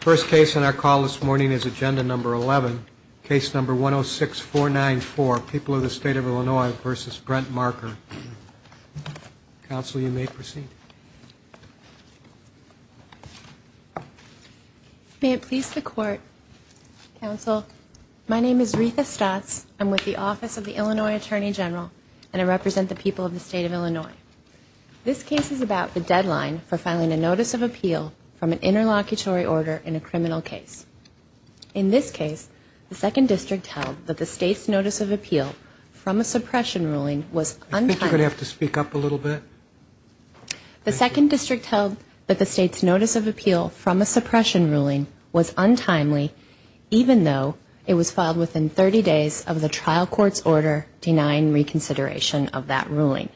First case on our call this morning is agenda number 11, case number 106494, People of the State of Illinois v. Brent Marker. Counsel, you may proceed. May it please the Court, Counsel, my name is Ritha Stotz. I'm with the Office of the Illinois Attorney General, and I represent the people of the State of Illinois. This case is about the deadline for filing a notice of appeal from an interlocutory order in a criminal case. In this case, the Second District held that the State's notice of appeal from a suppression ruling was untimely. I think you're going to have to speak up a little bit. The Second District held that the State's notice of appeal from a suppression ruling was untimely, even though it was filed within 30 days of the trial court's order denying reconsideration of that ruling.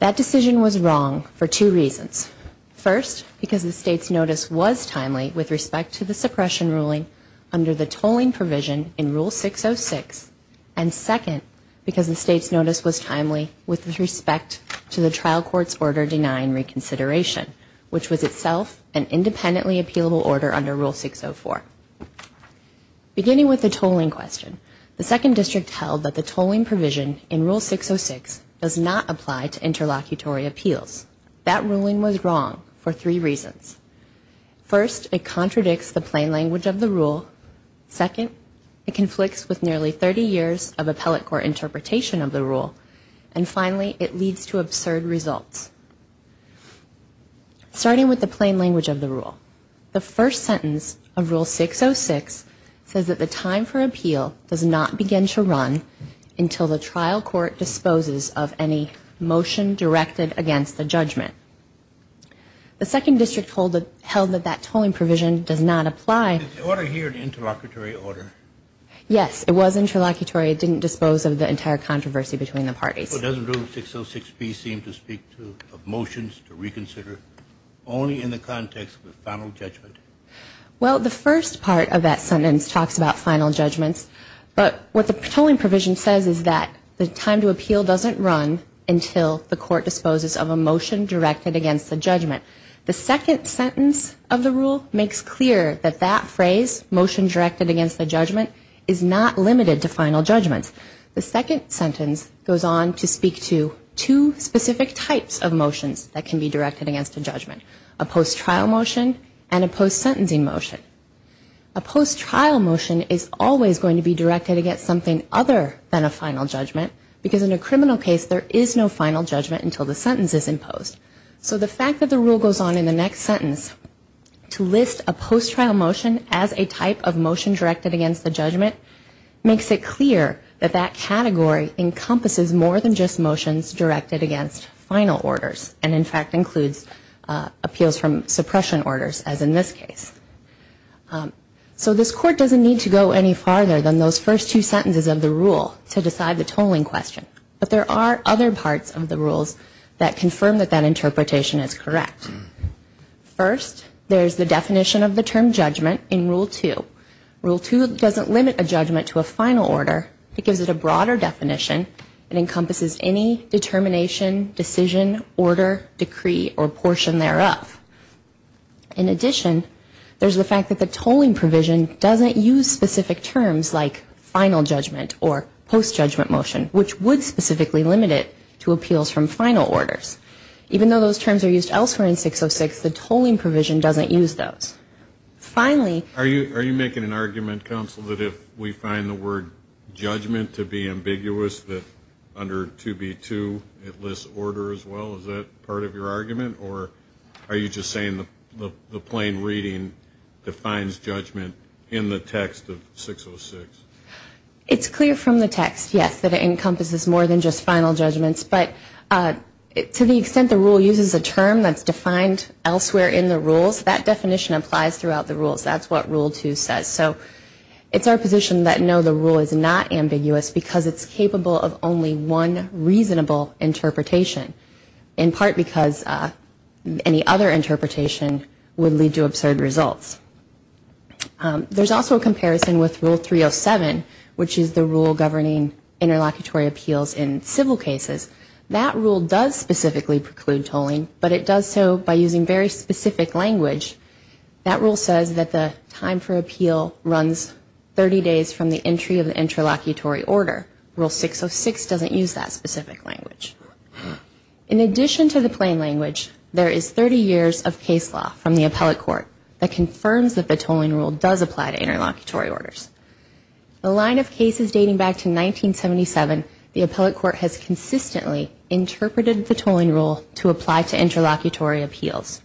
That decision was wrong for two reasons. First, because the State's notice was timely with respect to the suppression ruling under the tolling provision in Rule 606, and second, because the State's notice was timely with respect to the trial court's order denying reconsideration, which was itself an independently appealable order under Rule 604. Beginning with the tolling question, the Second District held that the tolling provision in Rule 606 does not apply to interlocutory appeals. That ruling was wrong for three reasons. First, it contradicts the plain language of the rule. Second, it conflicts with nearly 30 years of appellate court interpretation of the rule. And finally, it leads to absurd results. Starting with the plain language of the rule, the first sentence of Rule 606 says that the time for appeal does not begin to run until the trial court disposes of any motion directed against the judgment. The Second District held that that tolling provision does not apply. Is the order here an interlocutory order? Yes, it was interlocutory. It didn't dispose of the entire controversy between the parties. Well, doesn't Rule 606B seem to speak to motions to reconsider only in the context of a final judgment? Well, the first part of that sentence talks about final judgments, but what the tolling provision says is that the time to appeal doesn't run until the court disposes of a motion directed against the judgment. The second sentence of the rule makes clear that that phrase, motion directed against the judgment, is not limited to final judgments. The second sentence goes on to speak to two specific types of motions that can be directed against a judgment, a post-trial motion and a post-sentencing motion. A post-trial motion is always going to be directed against something other than a final judgment because in a criminal case there is no final judgment until the sentence is imposed. So the fact that the rule goes on in the next sentence to list a post-trial motion as a type of motion directed against the judgment makes it clear that that category encompasses more than just motions directed against final orders and in fact includes appeals from suppression orders as in this case. So this court doesn't need to go any farther than those first two sentences of the rule to decide the tolling question, but there are other parts of the rules that confirm that that interpretation is correct. First, there's the definition of the term judgment in Rule 2. Rule 2 doesn't limit a judgment to a final order. It gives it a broader definition and encompasses any determination, decision, order, decree or portion thereof. In addition, there's the fact that the tolling provision doesn't use specific terms like final judgment or post-judgment motion which would specifically limit it to appeals from final orders. Even though those terms are used elsewhere in 606, the tolling provision doesn't use those. Finally- Are you making an argument, counsel, that if we find the word judgment to be ambiguous that under 2B2 it lists order as well? Is that part of your argument or are you just saying the plain reading defines judgment in the text of 606? It's clear from the text, yes, that it encompasses more than just final judgments, but to the extent the rule uses a term that's defined elsewhere in the rules, that definition applies throughout the rules. That's what Rule 2 says. So it's our position that no, the rule is not ambiguous because it's capable of only one reasonable interpretation, in part because any other interpretation would lead to absurd results. There's also a comparison with Rule 307, which is the rule governing interlocutory appeals in civil cases. That rule does specifically preclude tolling, but it does so by using very specific language. That rule says that the time for appeal runs 30 days from the entry of the interlocutory order. Rule 606 doesn't use that specific language. In addition to the plain language, there is 30 years of case law from the appellate court that confirms that the tolling rule does apply to interlocutory orders. The line of cases dating back to 1977, the appellate court has consistently interpreted the tolling rule to apply to interlocutory appeals.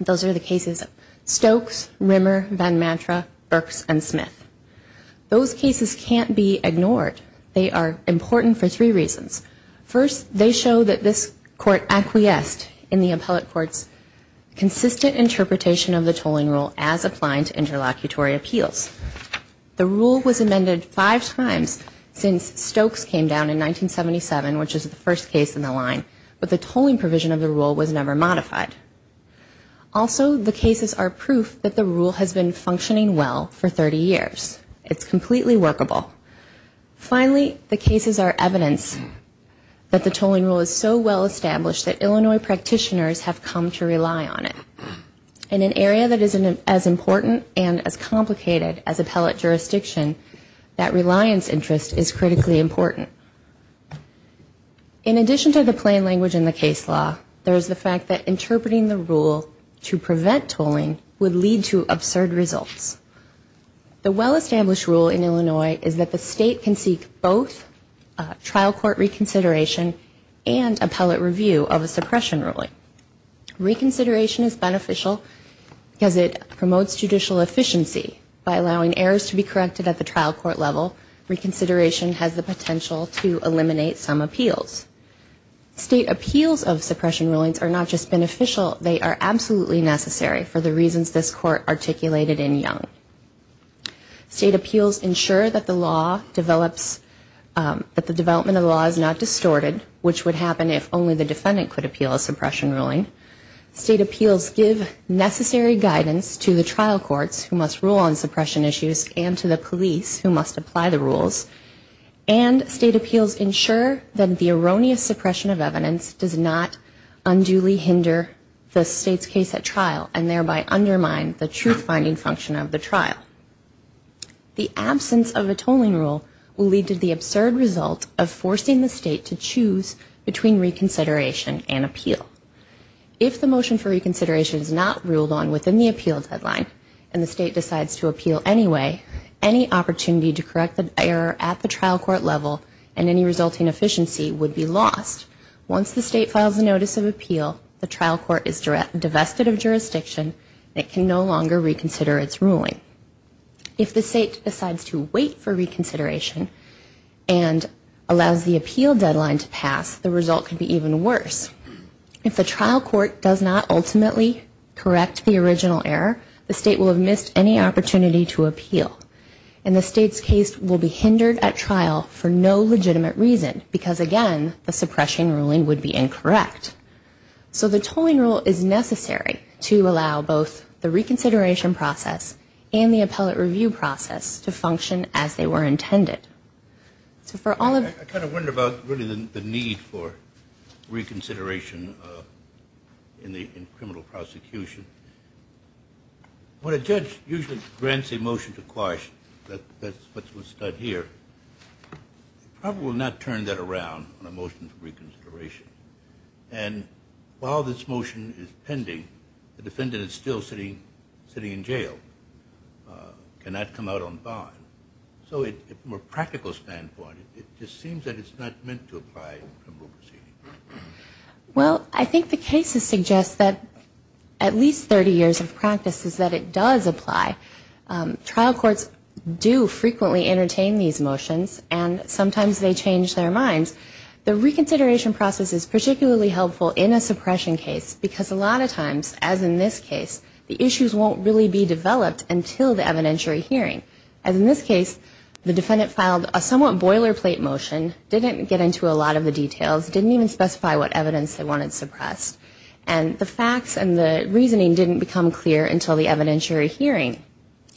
Those are the cases of Stokes, Rimmer, Van Mantra, Burks, and Smith. Those cases can't be ignored. They are important for three reasons. First, they show that this court acquiesced in the appellate court's consistent interpretation of the tolling rule as applying to interlocutory appeals. The rule was amended five times since Stokes came down in 1977, which is the first case in the line, but the tolling provision of the rule was never modified. Also, the cases are proof that the rule has been functioning well for 30 years. It's completely workable. Finally, the cases are evidence that the tolling rule is so well established that Illinois practitioners have come to rely on it. In an area that is as important and as complicated as appellate jurisdiction, that reliance interest is critically important. In addition to the plain language in the case law, there is the fact that interpreting the rule to prevent tolling would lead to absurd results. The well-established rule in Illinois is that the state can seek both trial court reconsideration and appellate review of a suppression ruling. Reconsideration is beneficial because it promotes judicial efficiency. By allowing errors to be corrected at the trial court level, reconsideration has the potential to eliminate some appeals. State appeals of suppression rulings are not just beneficial, they are absolutely necessary for the reasons this court articulated in Young. State appeals ensure that the development of the law is not distorted, which would happen if only the defendant could appeal a suppression ruling. State appeals give necessary guidance to the trial courts who must rule on suppression issues and to the police who must apply the rules. And state appeals ensure that the erroneous suppression of evidence does not unduly hinder the state's case at trial and thereby undermine the truth-finding function of the trial. The absence of a tolling rule will lead to the absurd result of forcing the state to choose between reconsideration and appeal. If the motion for reconsideration is not ruled on within the appeal deadline and the state decides to appeal anyway, any opportunity to correct the error at the trial court level and any resulting efficiency would be lost. Once the state files a notice of appeal, the trial court is divested of jurisdiction and it can no longer reconsider its ruling. If the state decides to wait for reconsideration and allows the appeal deadline to pass, the result could be even worse. If the trial court does not ultimately correct the original error, the state will have missed any opportunity to appeal and the state's case will be hindered at trial for no legitimate reason because, again, the suppression ruling would be incorrect. So the tolling rule is necessary to allow both the reconsideration process and the appellate review process to function as they were intended. I kind of wonder about really the need for reconsideration in criminal prosecution. When a judge usually grants a motion to quash, that's what's done here, they probably will not turn that around on a motion for reconsideration. And while this motion is pending, the defendant is still sitting in jail, cannot come out on bond. So from a practical standpoint, it just seems that it's not meant to apply in criminal proceeding. Well, I think the cases suggest that at least 30 years of practice is that it does apply. Trial courts do frequently entertain these motions and sometimes they change their minds. The reconsideration process is particularly helpful in a suppression case because a lot of times, as in this case, the issues won't really be developed until the evidentiary hearing. As in this case, the defendant filed a somewhat boilerplate motion, didn't get into a lot of the details, didn't even specify what evidence they wanted suppressed. And the facts and the reasoning didn't become clear until the evidentiary hearing.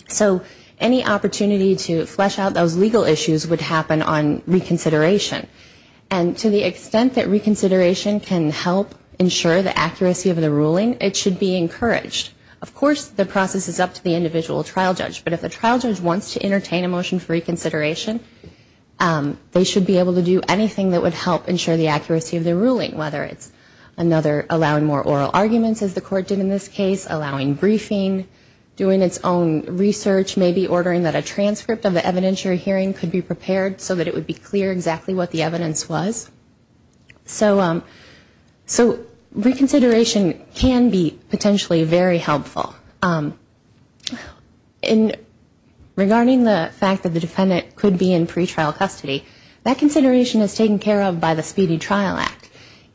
So any opportunity to flesh out those legal issues would happen on reconsideration. And to the extent that reconsideration can help ensure the accuracy of the ruling, it should be encouraged. Of course, the process is up to the individual trial judge, but if the trial judge wants to entertain a motion for reconsideration, they should be able to do anything that would help ensure the accuracy of the ruling, whether it's allowing more oral arguments, as the court did in this case, allowing briefing, doing its own research, maybe ordering that a transcript of the evidentiary hearing could be prepared so that it would be clear exactly what the evidence was. So reconsideration can be potentially very helpful. And regarding the fact that the defendant could be in pretrial custody, that consideration is taken care of by the Speedy Trial Act.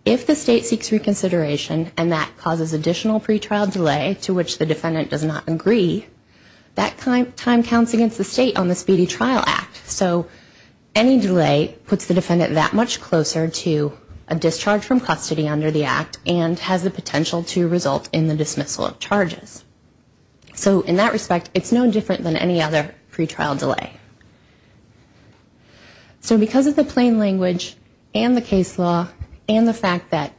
If the state seeks reconsideration and that causes additional pretrial delay to which the defendant does not agree, that time counts against the state on the Speedy Trial Act. So any delay puts the defendant that much closer to a discharge from custody under the act and has the potential to result in the dismissal of charges. So in that respect, it's no different than any other pretrial delay. So because of the plain language and the case law and the fact that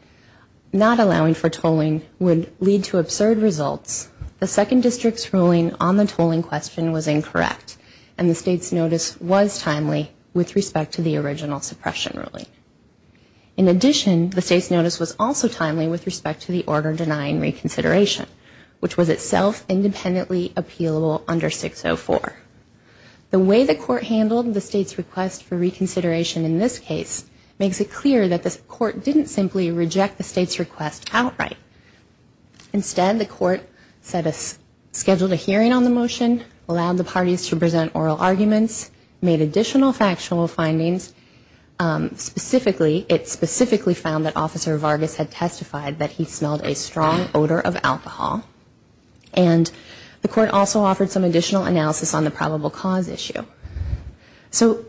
not allowing for tolling would lead to absurd results, the second district's ruling on the tolling question was incorrect and the state's notice was timely with respect to the original suppression ruling. In addition, the state's notice was also timely with respect to the order denying reconsideration, which was itself independently appealable under 604. The way the court handled the state's request for reconsideration in this case makes it clear that the court didn't simply reject the state's request outright. Instead, the court scheduled a hearing on the motion, allowed the parties to present oral arguments, made additional factual findings. Specifically, it specifically found that Officer Vargas had testified that he smelled a strong odor of alcohol and the court also offered some additional analysis on the probable cause issue. So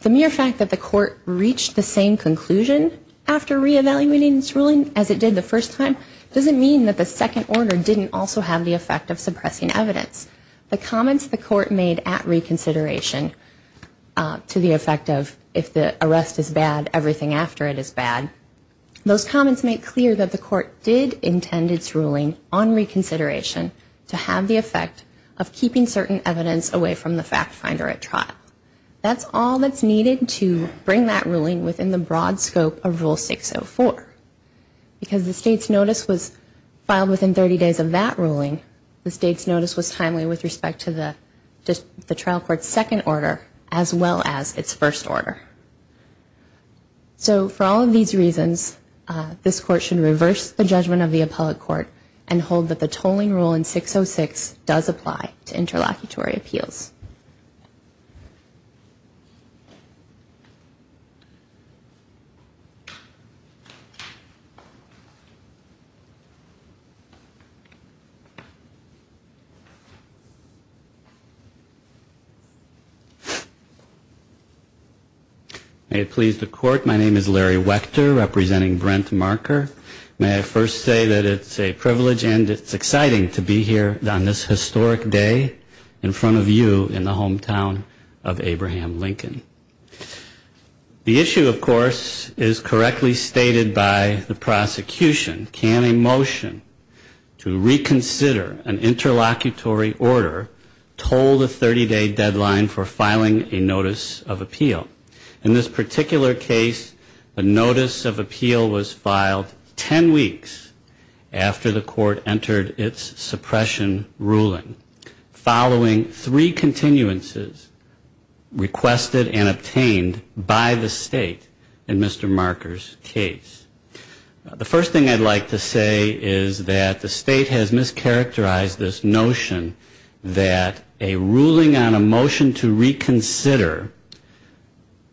the mere fact that the court reached the same conclusion after re-evaluating its ruling as it did the first time doesn't mean that the second order didn't also have the effect of suppressing evidence. The comments the court made at reconsideration to the effect of if the arrest is bad, everything after it is bad, those comments make clear that the court did intend its ruling on reconsideration to have the effect of keeping certain evidence away from the fact finder at trial. That's all that's needed to bring that ruling within the broad scope of Rule 604. Because the state's notice was filed within 30 days of that ruling, the state's notice was timely with respect to the trial court's second order as well as its first order. So for all of these reasons, this court should reverse the judgment of the appellate court and hold that the tolling rule in 606 does apply to interlocutory appeals. May it please the court. My name is Larry Wechter, representing Brent Marker. May I first say that it's a privilege and it's exciting to be here on this historic day in front of you in the hometown of Abraham Lincoln. The issue, of course, is correctly stated by the prosecution. Can a motion to reconsider an interlocutory order toll the 30-day deadline for filing a notice of appeal? In this particular case, a notice of appeal was filed 10 weeks after the court entered its suppression ruling, following three continuances requested and obtained by the state in Mr. Marker's case. The first thing I'd like to say is that the state has mischaracterized this notion that a ruling on a motion to reconsider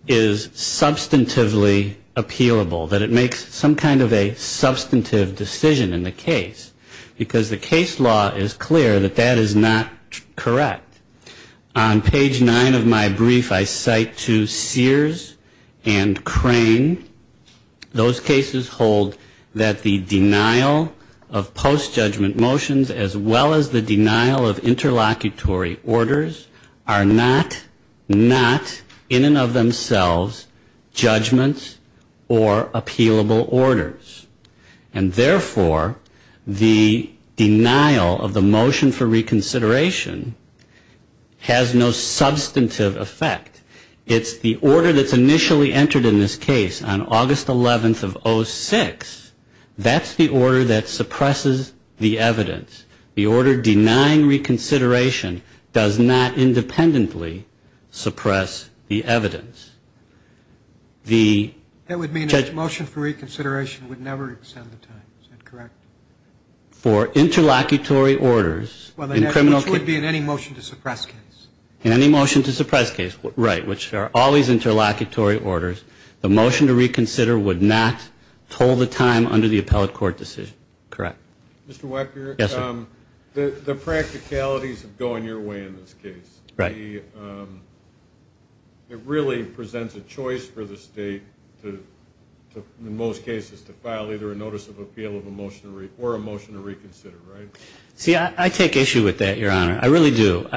is substantively appealable, that it makes some kind of a substantive decision in the case, because the case law is clear that that is not correct. On page nine of my brief, I cite to Sears and Crane, those cases hold that the denial of post-judgment motions, as well as the denial of interlocutory orders, are not, not in and of themselves judgments or appealable orders. And therefore, the denial of the motion for reconsideration has no substantive effect. It's the order that's initially entered in this case on August 11th of 06. That's the order that suppresses the evidence. The order denying reconsideration does not independently suppress the evidence. That would mean a motion for reconsideration would never extend the time, is that correct? For interlocutory orders in criminal cases. In any motion to suppress case, right, which are always interlocutory orders, the motion to reconsider would not hold the time under the appellate court decision, correct? Mr. Wecker, the practicalities of going your way in this case, it really presents a choice for the state to, in most cases, to file either a notice of appeal or a motion to reconsider, right? See, I take issue with that, Your Honor. I really do.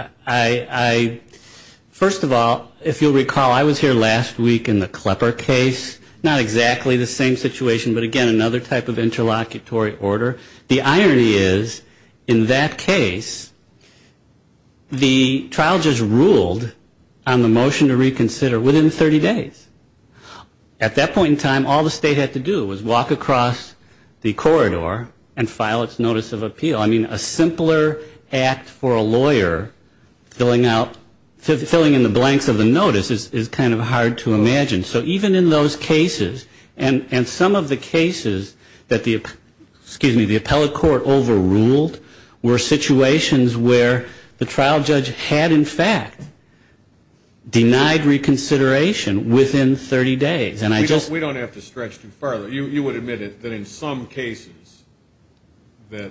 First of all, if you'll recall, I was here last week in the Klepper case. Not exactly the same situation, but again, another type of interlocutory order. The irony is, in that case, the trial just ruled on the motion to reconsider within 30 days. At that point in time, all the state had to do was walk across the corridor and file its notice of appeal. I mean, a simpler act for a lawyer filling out, filling in the blanks of the notice is kind of hard to imagine. So even in those cases, and some of the cases that the, excuse me, the appellate court overruled, were situations where the trial judge had, in fact, denied reconsideration within 30 days. And I just We don't have to stretch too far. You would admit that in some cases that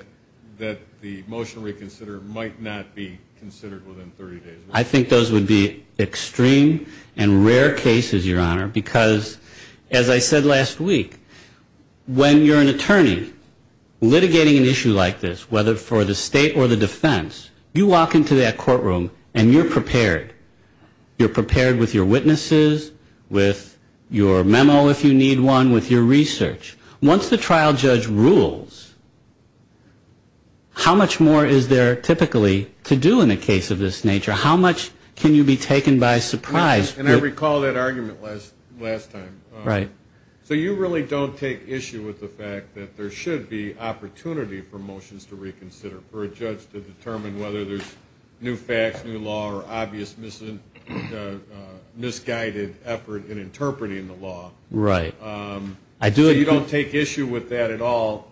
the motion to reconsider might not be considered within 30 days. I think those would be extreme and rare cases, Your Honor, because, as I said last week, when you're an attorney litigating an issue like this, whether for the state or the defense, you walk into that courtroom and you're prepared. You're prepared with your witnesses, with your memo, if you need one, with your research. Once the trial judge rules, how much more is there typically to do in a case of this nature? How much can you be taken by surprise? And I recall that argument last time. So you really don't take issue with the fact that there should be opportunity for motions to reconsider, given the misguided effort in interpreting the law. So you don't take issue with that at all.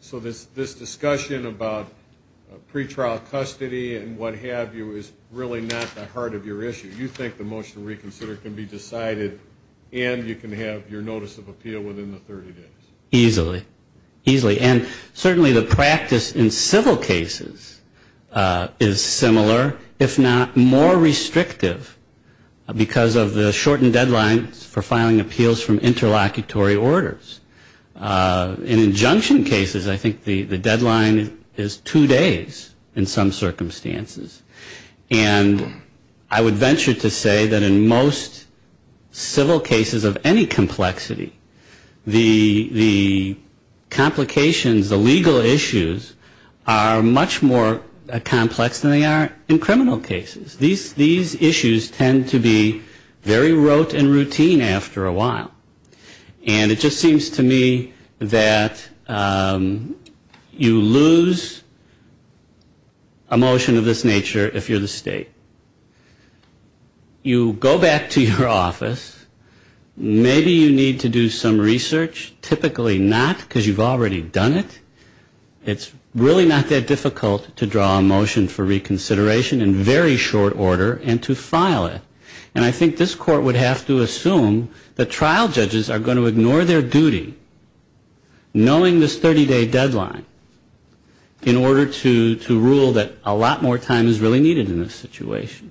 So this discussion about pretrial custody and what have you is really not the heart of your issue. You think the motion to reconsider can be decided and you can have your notice of appeal within the 30 days. Easily. And certainly the practice in civil cases is similar, if not more restrictive, because of the shortened deadlines for filing appeals from interlocutory orders. In injunction cases, I think the deadline is two days in some circumstances. And I would venture to say that in most civil cases of any complexity, the complications, the legal issues, are much more complex than they are in criminal cases. These issues tend to be very rote and routine after a while. And it just seems to me that you lose a motion of this nature if you're the state. You go back to your office, maybe you need to do some research. Typically not, because you've already done it. It's really not that difficult to draw a motion for reconsideration in very short order and to file it. And I think this court would have to assume that trial judges are going to ignore their duty, knowing this 30-day deadline, in order to rule that a lot more time is really needed in this situation.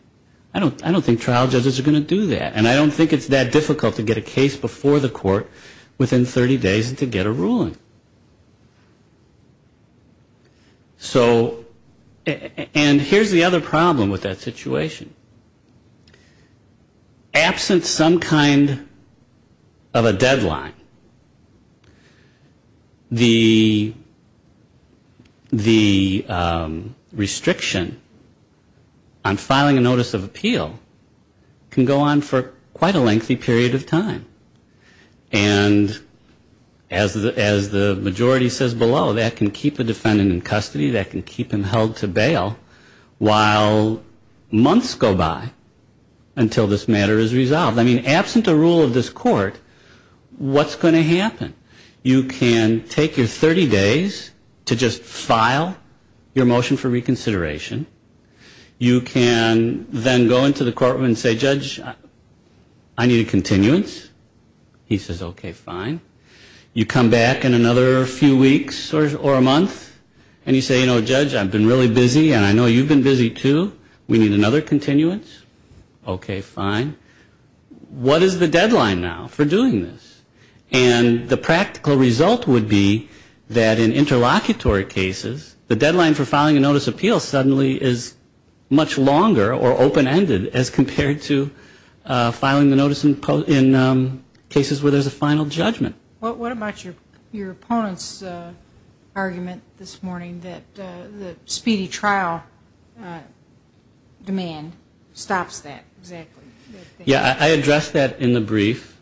I don't think trial judges are going to do that. And I don't think it's that difficult to get a case before the court within 30 days and to get a ruling. So, and here's the other problem with that situation. Absent some kind of a deadline, the trial judges are going to ignore their duty. The restriction on filing a notice of appeal can go on for quite a lengthy period of time. And as the majority says below, that can keep a defendant in custody, that can keep him held to bail, while months go by until this matter is resolved. I mean, absent a rule of this court, what's going to happen? You can take your 30 days to just file your motion for reconsideration. You can then go into the courtroom and say, Judge, I need a continuance. He says, okay, fine. You come back in another few weeks or a month, and you say, you know, Judge, I've been really busy, and I know you've been busy, too. We need another continuance. Okay, fine. What is the deadline now for doing this? And the practical result would be that in interlocutory cases, the deadline for filing a notice of appeal suddenly is much longer or open-ended as compared to filing the notice in cases where there's a final judgment. And that's where the demand stops that, exactly. Yeah, I addressed that in the brief,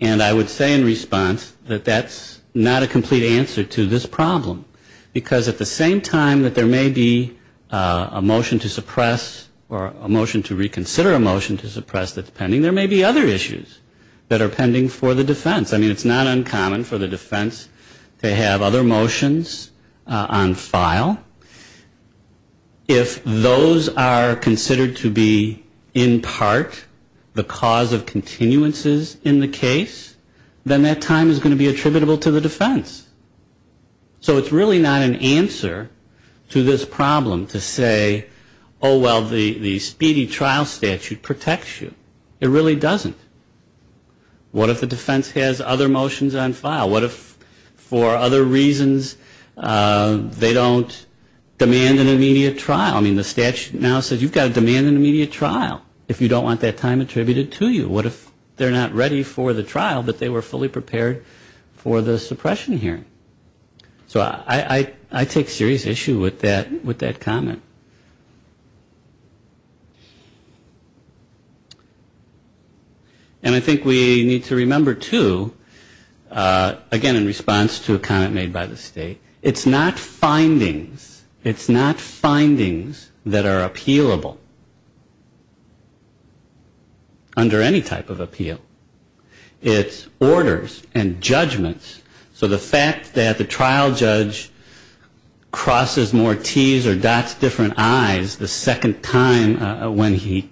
and I would say in response that that's not a complete answer to this problem. Because at the same time that there may be a motion to suppress or a motion to reconsider a motion to suppress that's pending, there may be other issues that are pending for the defense. I mean, it's not uncommon for the defense to have other motions on file. If those are considered to be in part the cause of continuances in the case, then that time is going to be attributable to the defense. So it's really not an answer to this problem to say, oh, well, the speedy trial statute protects you. It really doesn't. What if the defense has other motions on file? What if for other reasons they don't demand an immediate trial? I mean, the statute now says you've got to demand an immediate trial if you don't want that time attributed to you. What if they're not ready for the trial, but they were fully prepared for the suppression hearing? So I take serious issue with that comment. And I think we need to remember, too, again, in response to a comment made by the state, it's not findings. It's not findings that are appealable under any type of appeal. It's orders and judgments. So the fact that the trial judge crosses more Ts or dots different Is the second time when he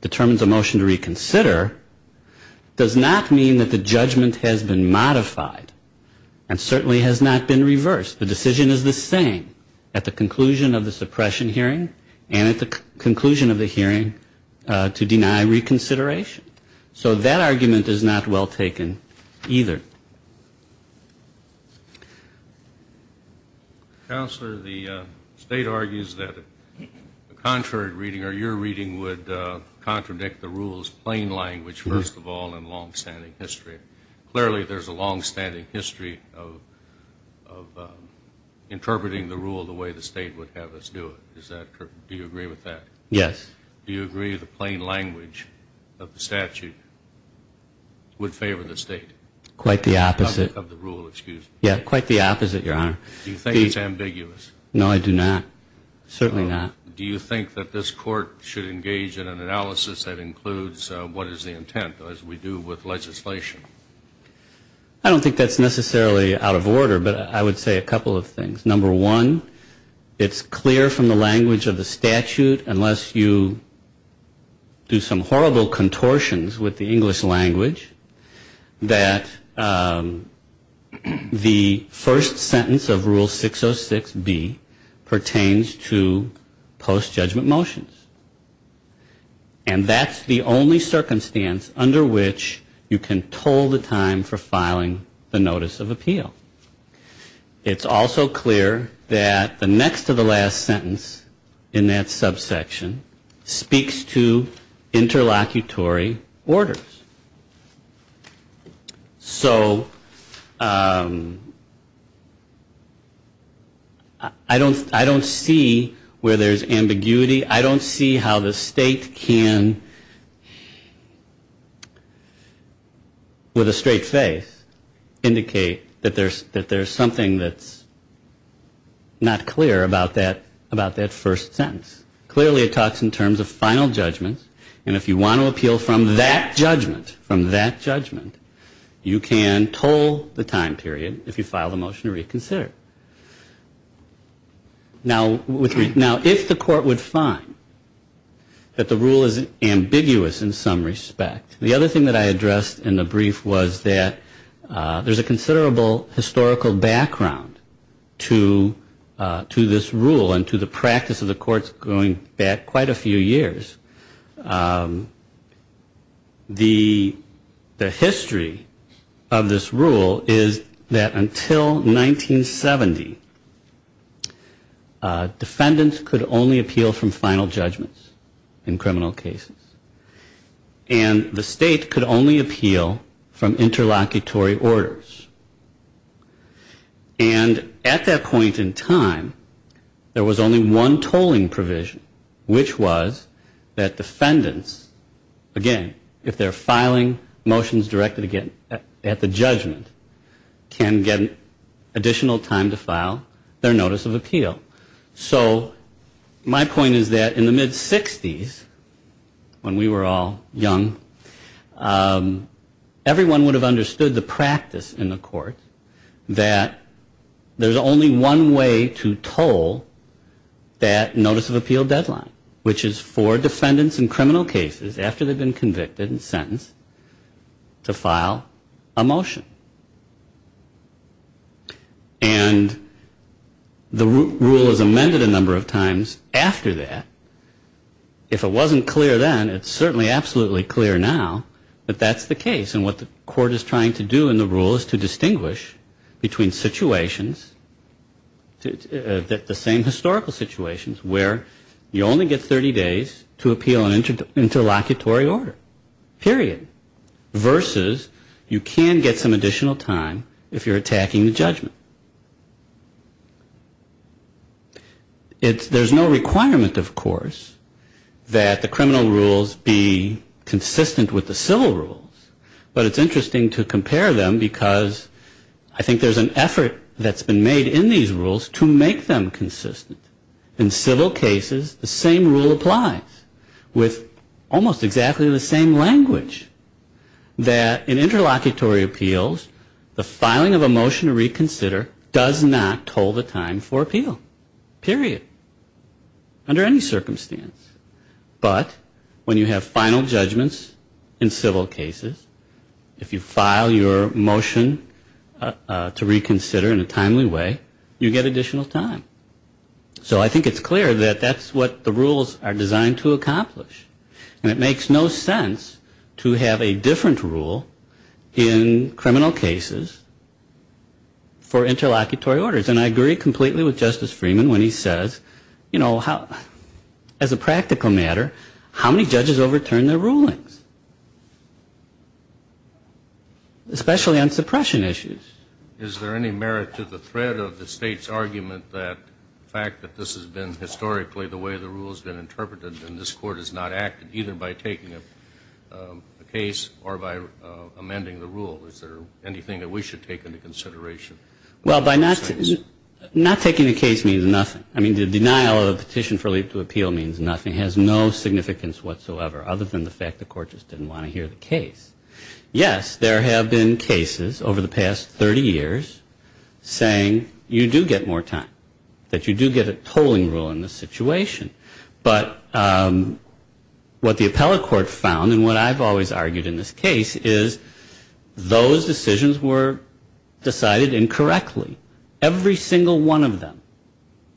determines a motion to reconsider does not mean that the judgment has been modified and certainly has not been reversed. The decision is the same at the conclusion of the suppression hearing and at the conclusion of the hearing to deny reconsideration. So that argument is not well taken either. Counselor, the state argues that a contrary reading or your reading would contradict the rules plain language, first of all, in long-standing history. Clearly there's a long-standing history of interpreting the rule the way the state would have us do it. Do you agree with that? Yes. Do you agree the plain language of the statute would favor the state? Quite the opposite. Do you think it's ambiguous? No, I do not. Certainly not. Do you think that this court should engage in an analysis that includes what is the intent, as we do with legislation? I don't think that's necessarily out of order, but I would say a couple of things. Number one, it's clear from the language of the statute, unless you do some horrible contortions with the English language, that the first sentence of Rule 606, B, pertains to post-judgment motions. And that's the only circumstance under which you can toll the time for filing the notice of appeal. It's also clear that the next to the last sentence in that subsection speaks to interlocutory orders. So I don't see where there's ambiguity. I don't see how the state can, with a straight face, indicate that there's something that's not clear about that first sentence. Clearly it talks in terms of final judgments, and if you want to appeal from that judgment, you can toll the time period if you file the motion to reconsider. Now, if the court would find that the rule is ambiguous in some respect, the other thing that I addressed in the brief was that there's a considerable historical background to this rule and to the practice of the courts going back quite a few years. The history of this rule is that until 1970, defendants could only appeal from final judgments in criminal cases. And the state could only appeal from interlocutory orders. And at that point in time, there was only one tolling provision, which was that defendants, again, if they're filing motions directed at the judgment, can get additional time to file their notice of appeal. So my point is that in the mid-60s, when we were all young, everyone would have understood the practice in the court that the only one way to toll that notice of appeal deadline, which is for defendants in criminal cases, after they've been convicted and sentenced, to file a motion. And the rule is amended a number of times after that. If it wasn't clear then, it's certainly absolutely clear now that that's the case. And what the court is trying to do in the rule is to distinguish between situations, the same historical situations, where you only get 30 days to appeal an interlocutory order, period, versus you can get some additional time if you're attacking the judgment. There's no requirement, of course, that the criminal rules be consistent with the civil rules. But it's interesting to compare them, because I think there's an effort that's been made in these rules to make them consistent. In civil cases, the same rule applies, with almost exactly the same language, that in interlocutory appeals, the filing of a motion to reconsider does not toll the time for appeal, period, under any circumstance. But when you have final judgments in civil cases, if you file your motion to reconsider in a timely way, you get additional time. So I think it's clear that that's what the rules are designed to accomplish. And it makes no sense to have a different rule in criminal cases for interlocutory orders. And I agree completely with Justice Freeman when he says, you know, as a practical matter, how many judges overturn their rulings, especially on suppression issues? Is there any merit to the threat of the State's argument that the fact that this has been historically the way the rule has been interpreted and this Court has not acted, either by taking a case or by amending the rule, is there anything that we should take into consideration? Well, by not taking a case means nothing. I mean, the denial of the petition for leap to appeal means nothing. It has no significance whatsoever, other than the fact the Court just didn't want to hear the case. Yes, there have been cases over the past 30 years saying you do get more time, that you do get a tolling rule in this situation. But what the appellate court found, and what I've always argued in this case, is those decisions were decided in case, and correctly, every single one of them,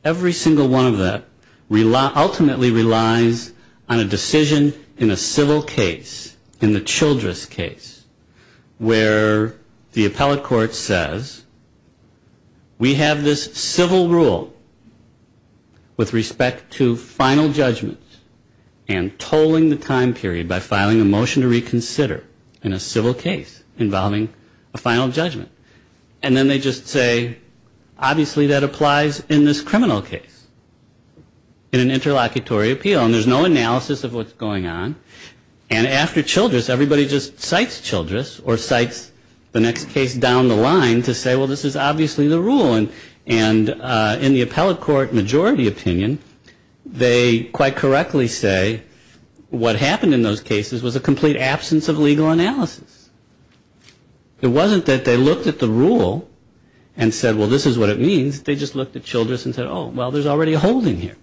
every single one of them ultimately relies on a decision in a civil case, in the Childress case, where the appellate court says we have this civil rule with respect to final judgment and tolling the time period by filing a motion to reconsider in a civil case involving a final judgment. And then they just say, obviously, that applies in this criminal case, in an interlocutory appeal. And there's no analysis of what's going on. And after Childress, everybody just cites Childress or cites the next case down the line to say, well, this is obviously the rule. And in the appellate court majority opinion, they quite correctly say what happened in those cases was a complete absence of legal evidence. There was no analysis. It wasn't that they looked at the rule and said, well, this is what it means. They just looked at Childress and said, oh, well, there's already a holding here.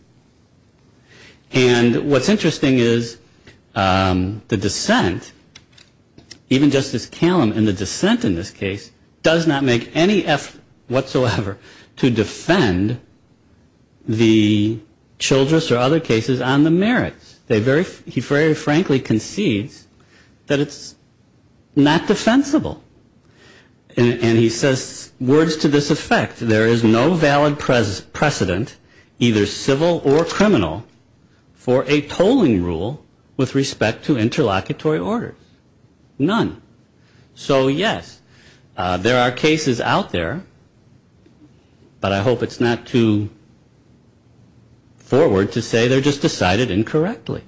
And what's interesting is the dissent, even Justice Callum in the dissent in this case, does not make any effort whatsoever to defend the Childress or other cases on the merits. He very frankly concedes that it's not defensible. And he says words to this effect, there is no valid precedent, either civil or criminal, for a tolling rule with respect to interlocutory orders. None. So, yes, there are cases out there, but I hope it's not too forward to say they're just decided incorrectly.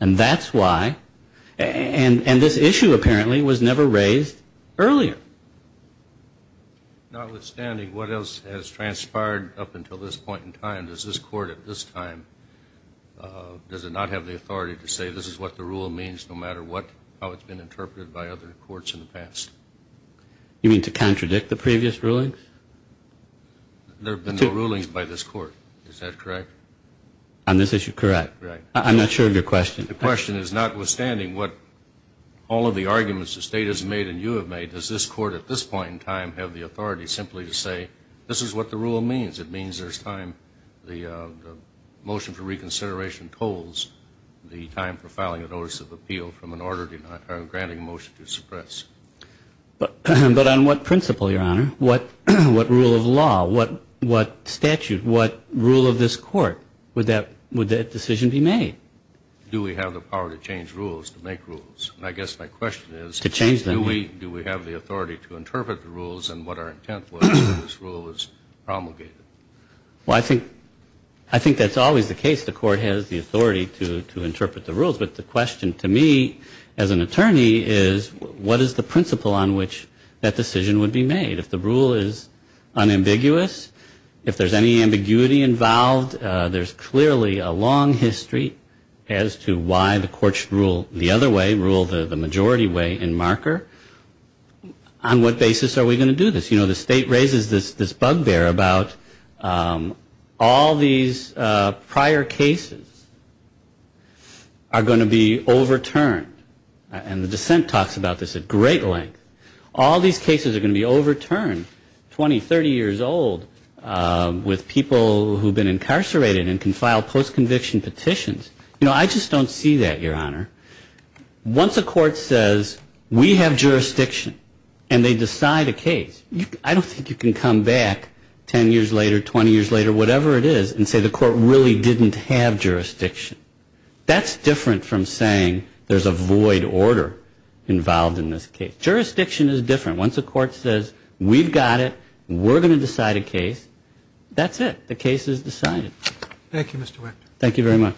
And that's why, and this issue apparently was never raised earlier. Notwithstanding what else has transpired up until this point in time, does this court at this time, does it not have the authority to say, this is what the rule means, no matter what, how it's been interpreted by other courts in the past? You mean to contradict the previous rulings? There have been no rulings by this court, is that correct? On this issue, correct. I'm not sure of your question. The question is, notwithstanding what all of the arguments the State has made and you have made, does this court at this point in time have the authority simply to say, this is what the rule means. It means there's time, the motion for reconsideration tolls the time for filing a notice of appeal from an order to grant a motion to suppress. But on what principle, Your Honor, what rule of law, what statute, what rule of this court would that decision be made? Do we have the power to change rules, to make rules? I guess my question is, do we have the authority to interpret the rules and what our intent was that this rule was promulgated? Well, I think that's always the case. The court has the authority to interpret the rules, but the question to me as an attorney is, what is the principle on which that decision would be made? If the rule is unambiguous, if there's any ambiguity involved, there's clearly a long history as to why the court should rule the other way, rule the majority way in marker. On what basis are we going to do this? You know, the State raises this bugbear about all these prior cases are going to be overturned. And the dissent talks about this at great length. All these cases are going to be overturned, 20, 30 years old, with people who have been incarcerated and can file post-conviction petitions. You know, I just don't see that, Your Honor. Once a court says, we have jurisdiction, and they decide a case, I don't think you can come back 10 years later, 20 years later, whatever it is, and say the court really didn't have jurisdiction. That's different from saying there's a void order involved in this case. Jurisdiction is different. Once a court says, we've got it, we're going to decide a case, that's it. The case is decided. Thank you very much.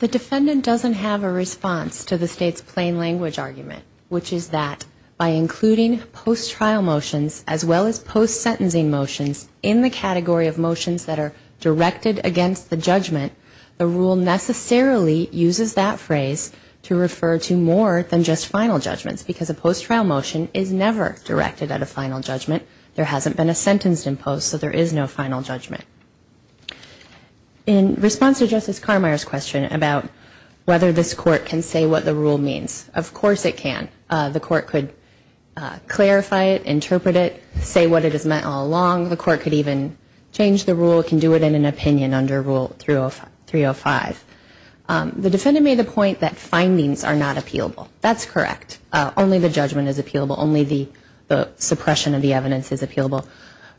The defendant doesn't have a response to the State's plain language argument, which is that by including post-trial motions, as well as post-sentencing motions, in the category of motions that are directed against the judgment, the rule necessarily uses that phrase to refer to more than just final judgments because a post-trial motion is never directed at a final judgment. There hasn't been a sentence imposed, so there is no final judgment. In response to Justice Carmier's question about whether this court can say what the rule means, of course it can. The court could clarify it, interpret it, say what it has meant all along. The court could even change the rule, can do it in an opinion under Rule 305. The defendant made the point that findings are not appealable. That's correct. Only the judgment is appealable. Only the suppression of the evidence is appealable.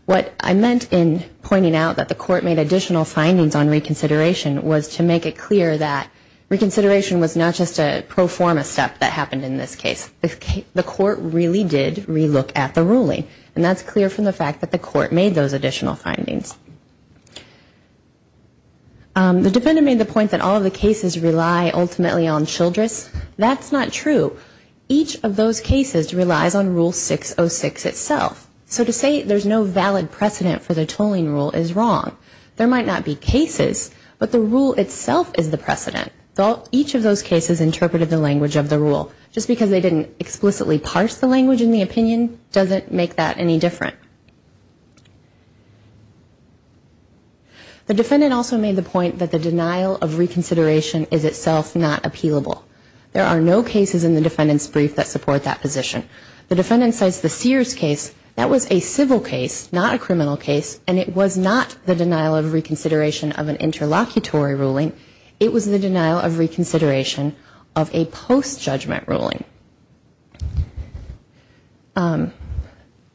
What I meant in pointing out that the court made additional findings on reconsideration was to make it clear that reconsideration was not just a pro forma step that happened in this case. The court really did relook at the ruling, and that's clear from the fact that the court made those additional findings. The defendant made the point that all of the cases rely ultimately on Childress. That's not true. Each of those cases relies on Rule 606 itself. So to say there's no valid precedent for the tolling rule is wrong. There might not be cases, but the rule itself is the precedent. Each of those cases interpreted the language of the rule. Just because they didn't explicitly parse the language in the opinion doesn't make that any different. The defendant also made the point that the denial of reconsideration is itself not appealable. There are no cases in the defendant's brief that support that position. The defendant cites the Sears case. That was a civil case, not a criminal case, and it was not the denial of reconsideration of an interlocutory ruling. It was the denial of reconsideration of a post-judgment ruling.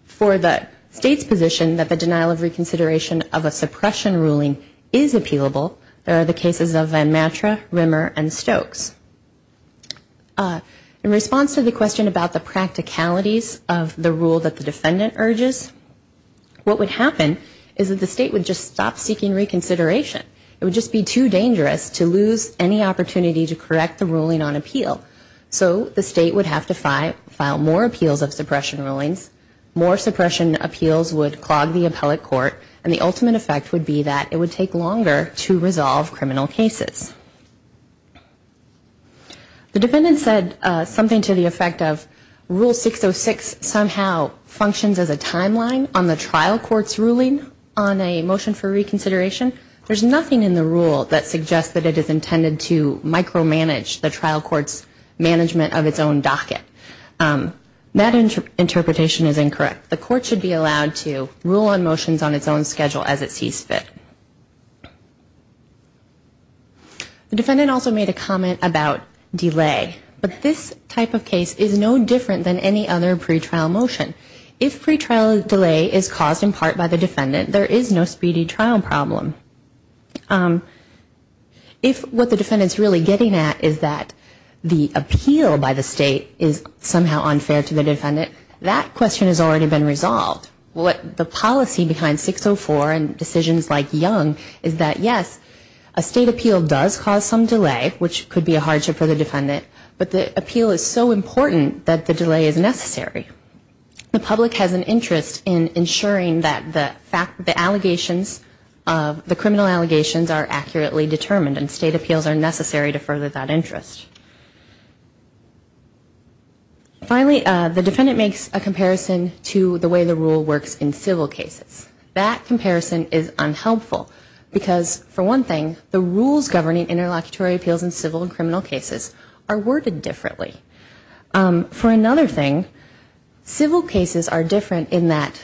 For the state's position that the denial of reconsideration of a suppression ruling is appealable, there are the cases of Van Matre, Rimmer, and Stokes. In response to the question about the practicalities of the rule that the defendant urges, what would happen is that the state would just stop seeking reconsideration. It would just be too dangerous to lose any opportunity to correct the ruling on appeal. So the state would have to file more appeals of suppression rulings, more suppression appeals would clog the appellate court, and the ultimate effect would be that it would take longer to resolve criminal cases. The defendant said something to the effect of, Rule 606 somehow functions as a timeline on the trial court's ruling on a motion for reconsideration. There's nothing in the rule that suggests that it is intended to micromanage the trial court's management of its own docket. That interpretation is incorrect. The court should be allowed to rule on motions on its own schedule as it sees fit. The defendant also made a comment about delay, but this type of case is no different than any other pretrial motion. If pretrial delay is caused in part by the defendant, there is no speedy trial problem. If what the defendant is really getting at is that the appeal by the state is somehow unfair to the defendant, that question has already been resolved. The policy behind 604 and decisions like Young is that yes, a state appeal does cause some delay, which could be a hardship for the defendant, but the appeal is so important that the delay is necessary. The public has an interest in ensuring that the allegations, the criminal allegations are accurately determined and state appeals are necessary to further that interest. Finally, the defendant makes a comparison to the way the rule works in civil cases. That comparison is unhelpful because for one thing, the rules governing interlocutory appeals in civil and criminal cases are worded differently. For another thing, civil cases are different in that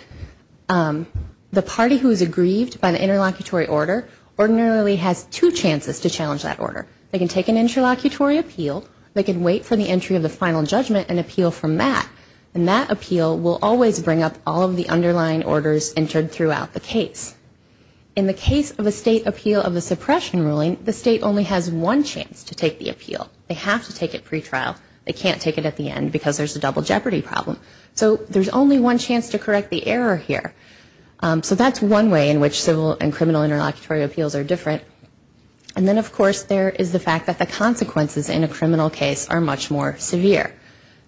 the party who is aggrieved by the interlocutory order ordinarily has two chances to challenge that order. They can take an interlocutory appeal, they can wait for the entry of the final judgment and appeal from that, and that appeal will always bring up all of the underlying orders entered throughout the case. In the case of a state appeal of a suppression ruling, the state only has one chance to take the appeal. They have to take it pretrial. They can't take it at the end because there's a double jeopardy problem. So there's only one chance to correct the error here. So that's one way in which civil and criminal interlocutory appeals are different. And then, of course, there is the fact that the consequences in a criminal case are much more severe.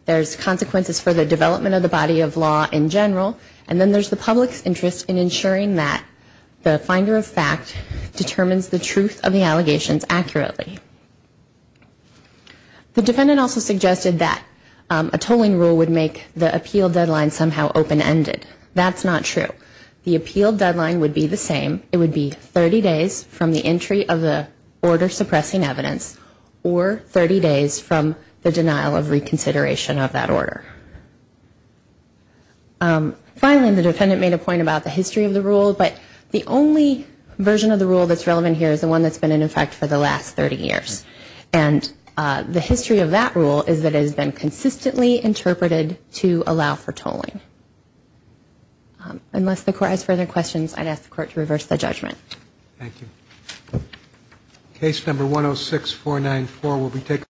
There's consequences for the development of the body of law in general, and then there's the public's interest in ensuring that the finder of fact determines the truth of the allegations accurately. The defendant also suggested that a tolling rule would make the appeal deadline somehow open-ended. That's not true. The appeal deadline would be the same. It would be 30 days from the entry of the order suppressing evidence or 30 days from the denial of reconsideration of that order. Finally, the defendant made a point about the history of the rule, but the only version of the rule that's relevant here is the one that's been in effect for the last 30 years. And the history of that rule is that it has been consistently interpreted to allow for tolling. Unless the Court has further questions, I'd ask the Court to reverse the judgment. Thank you.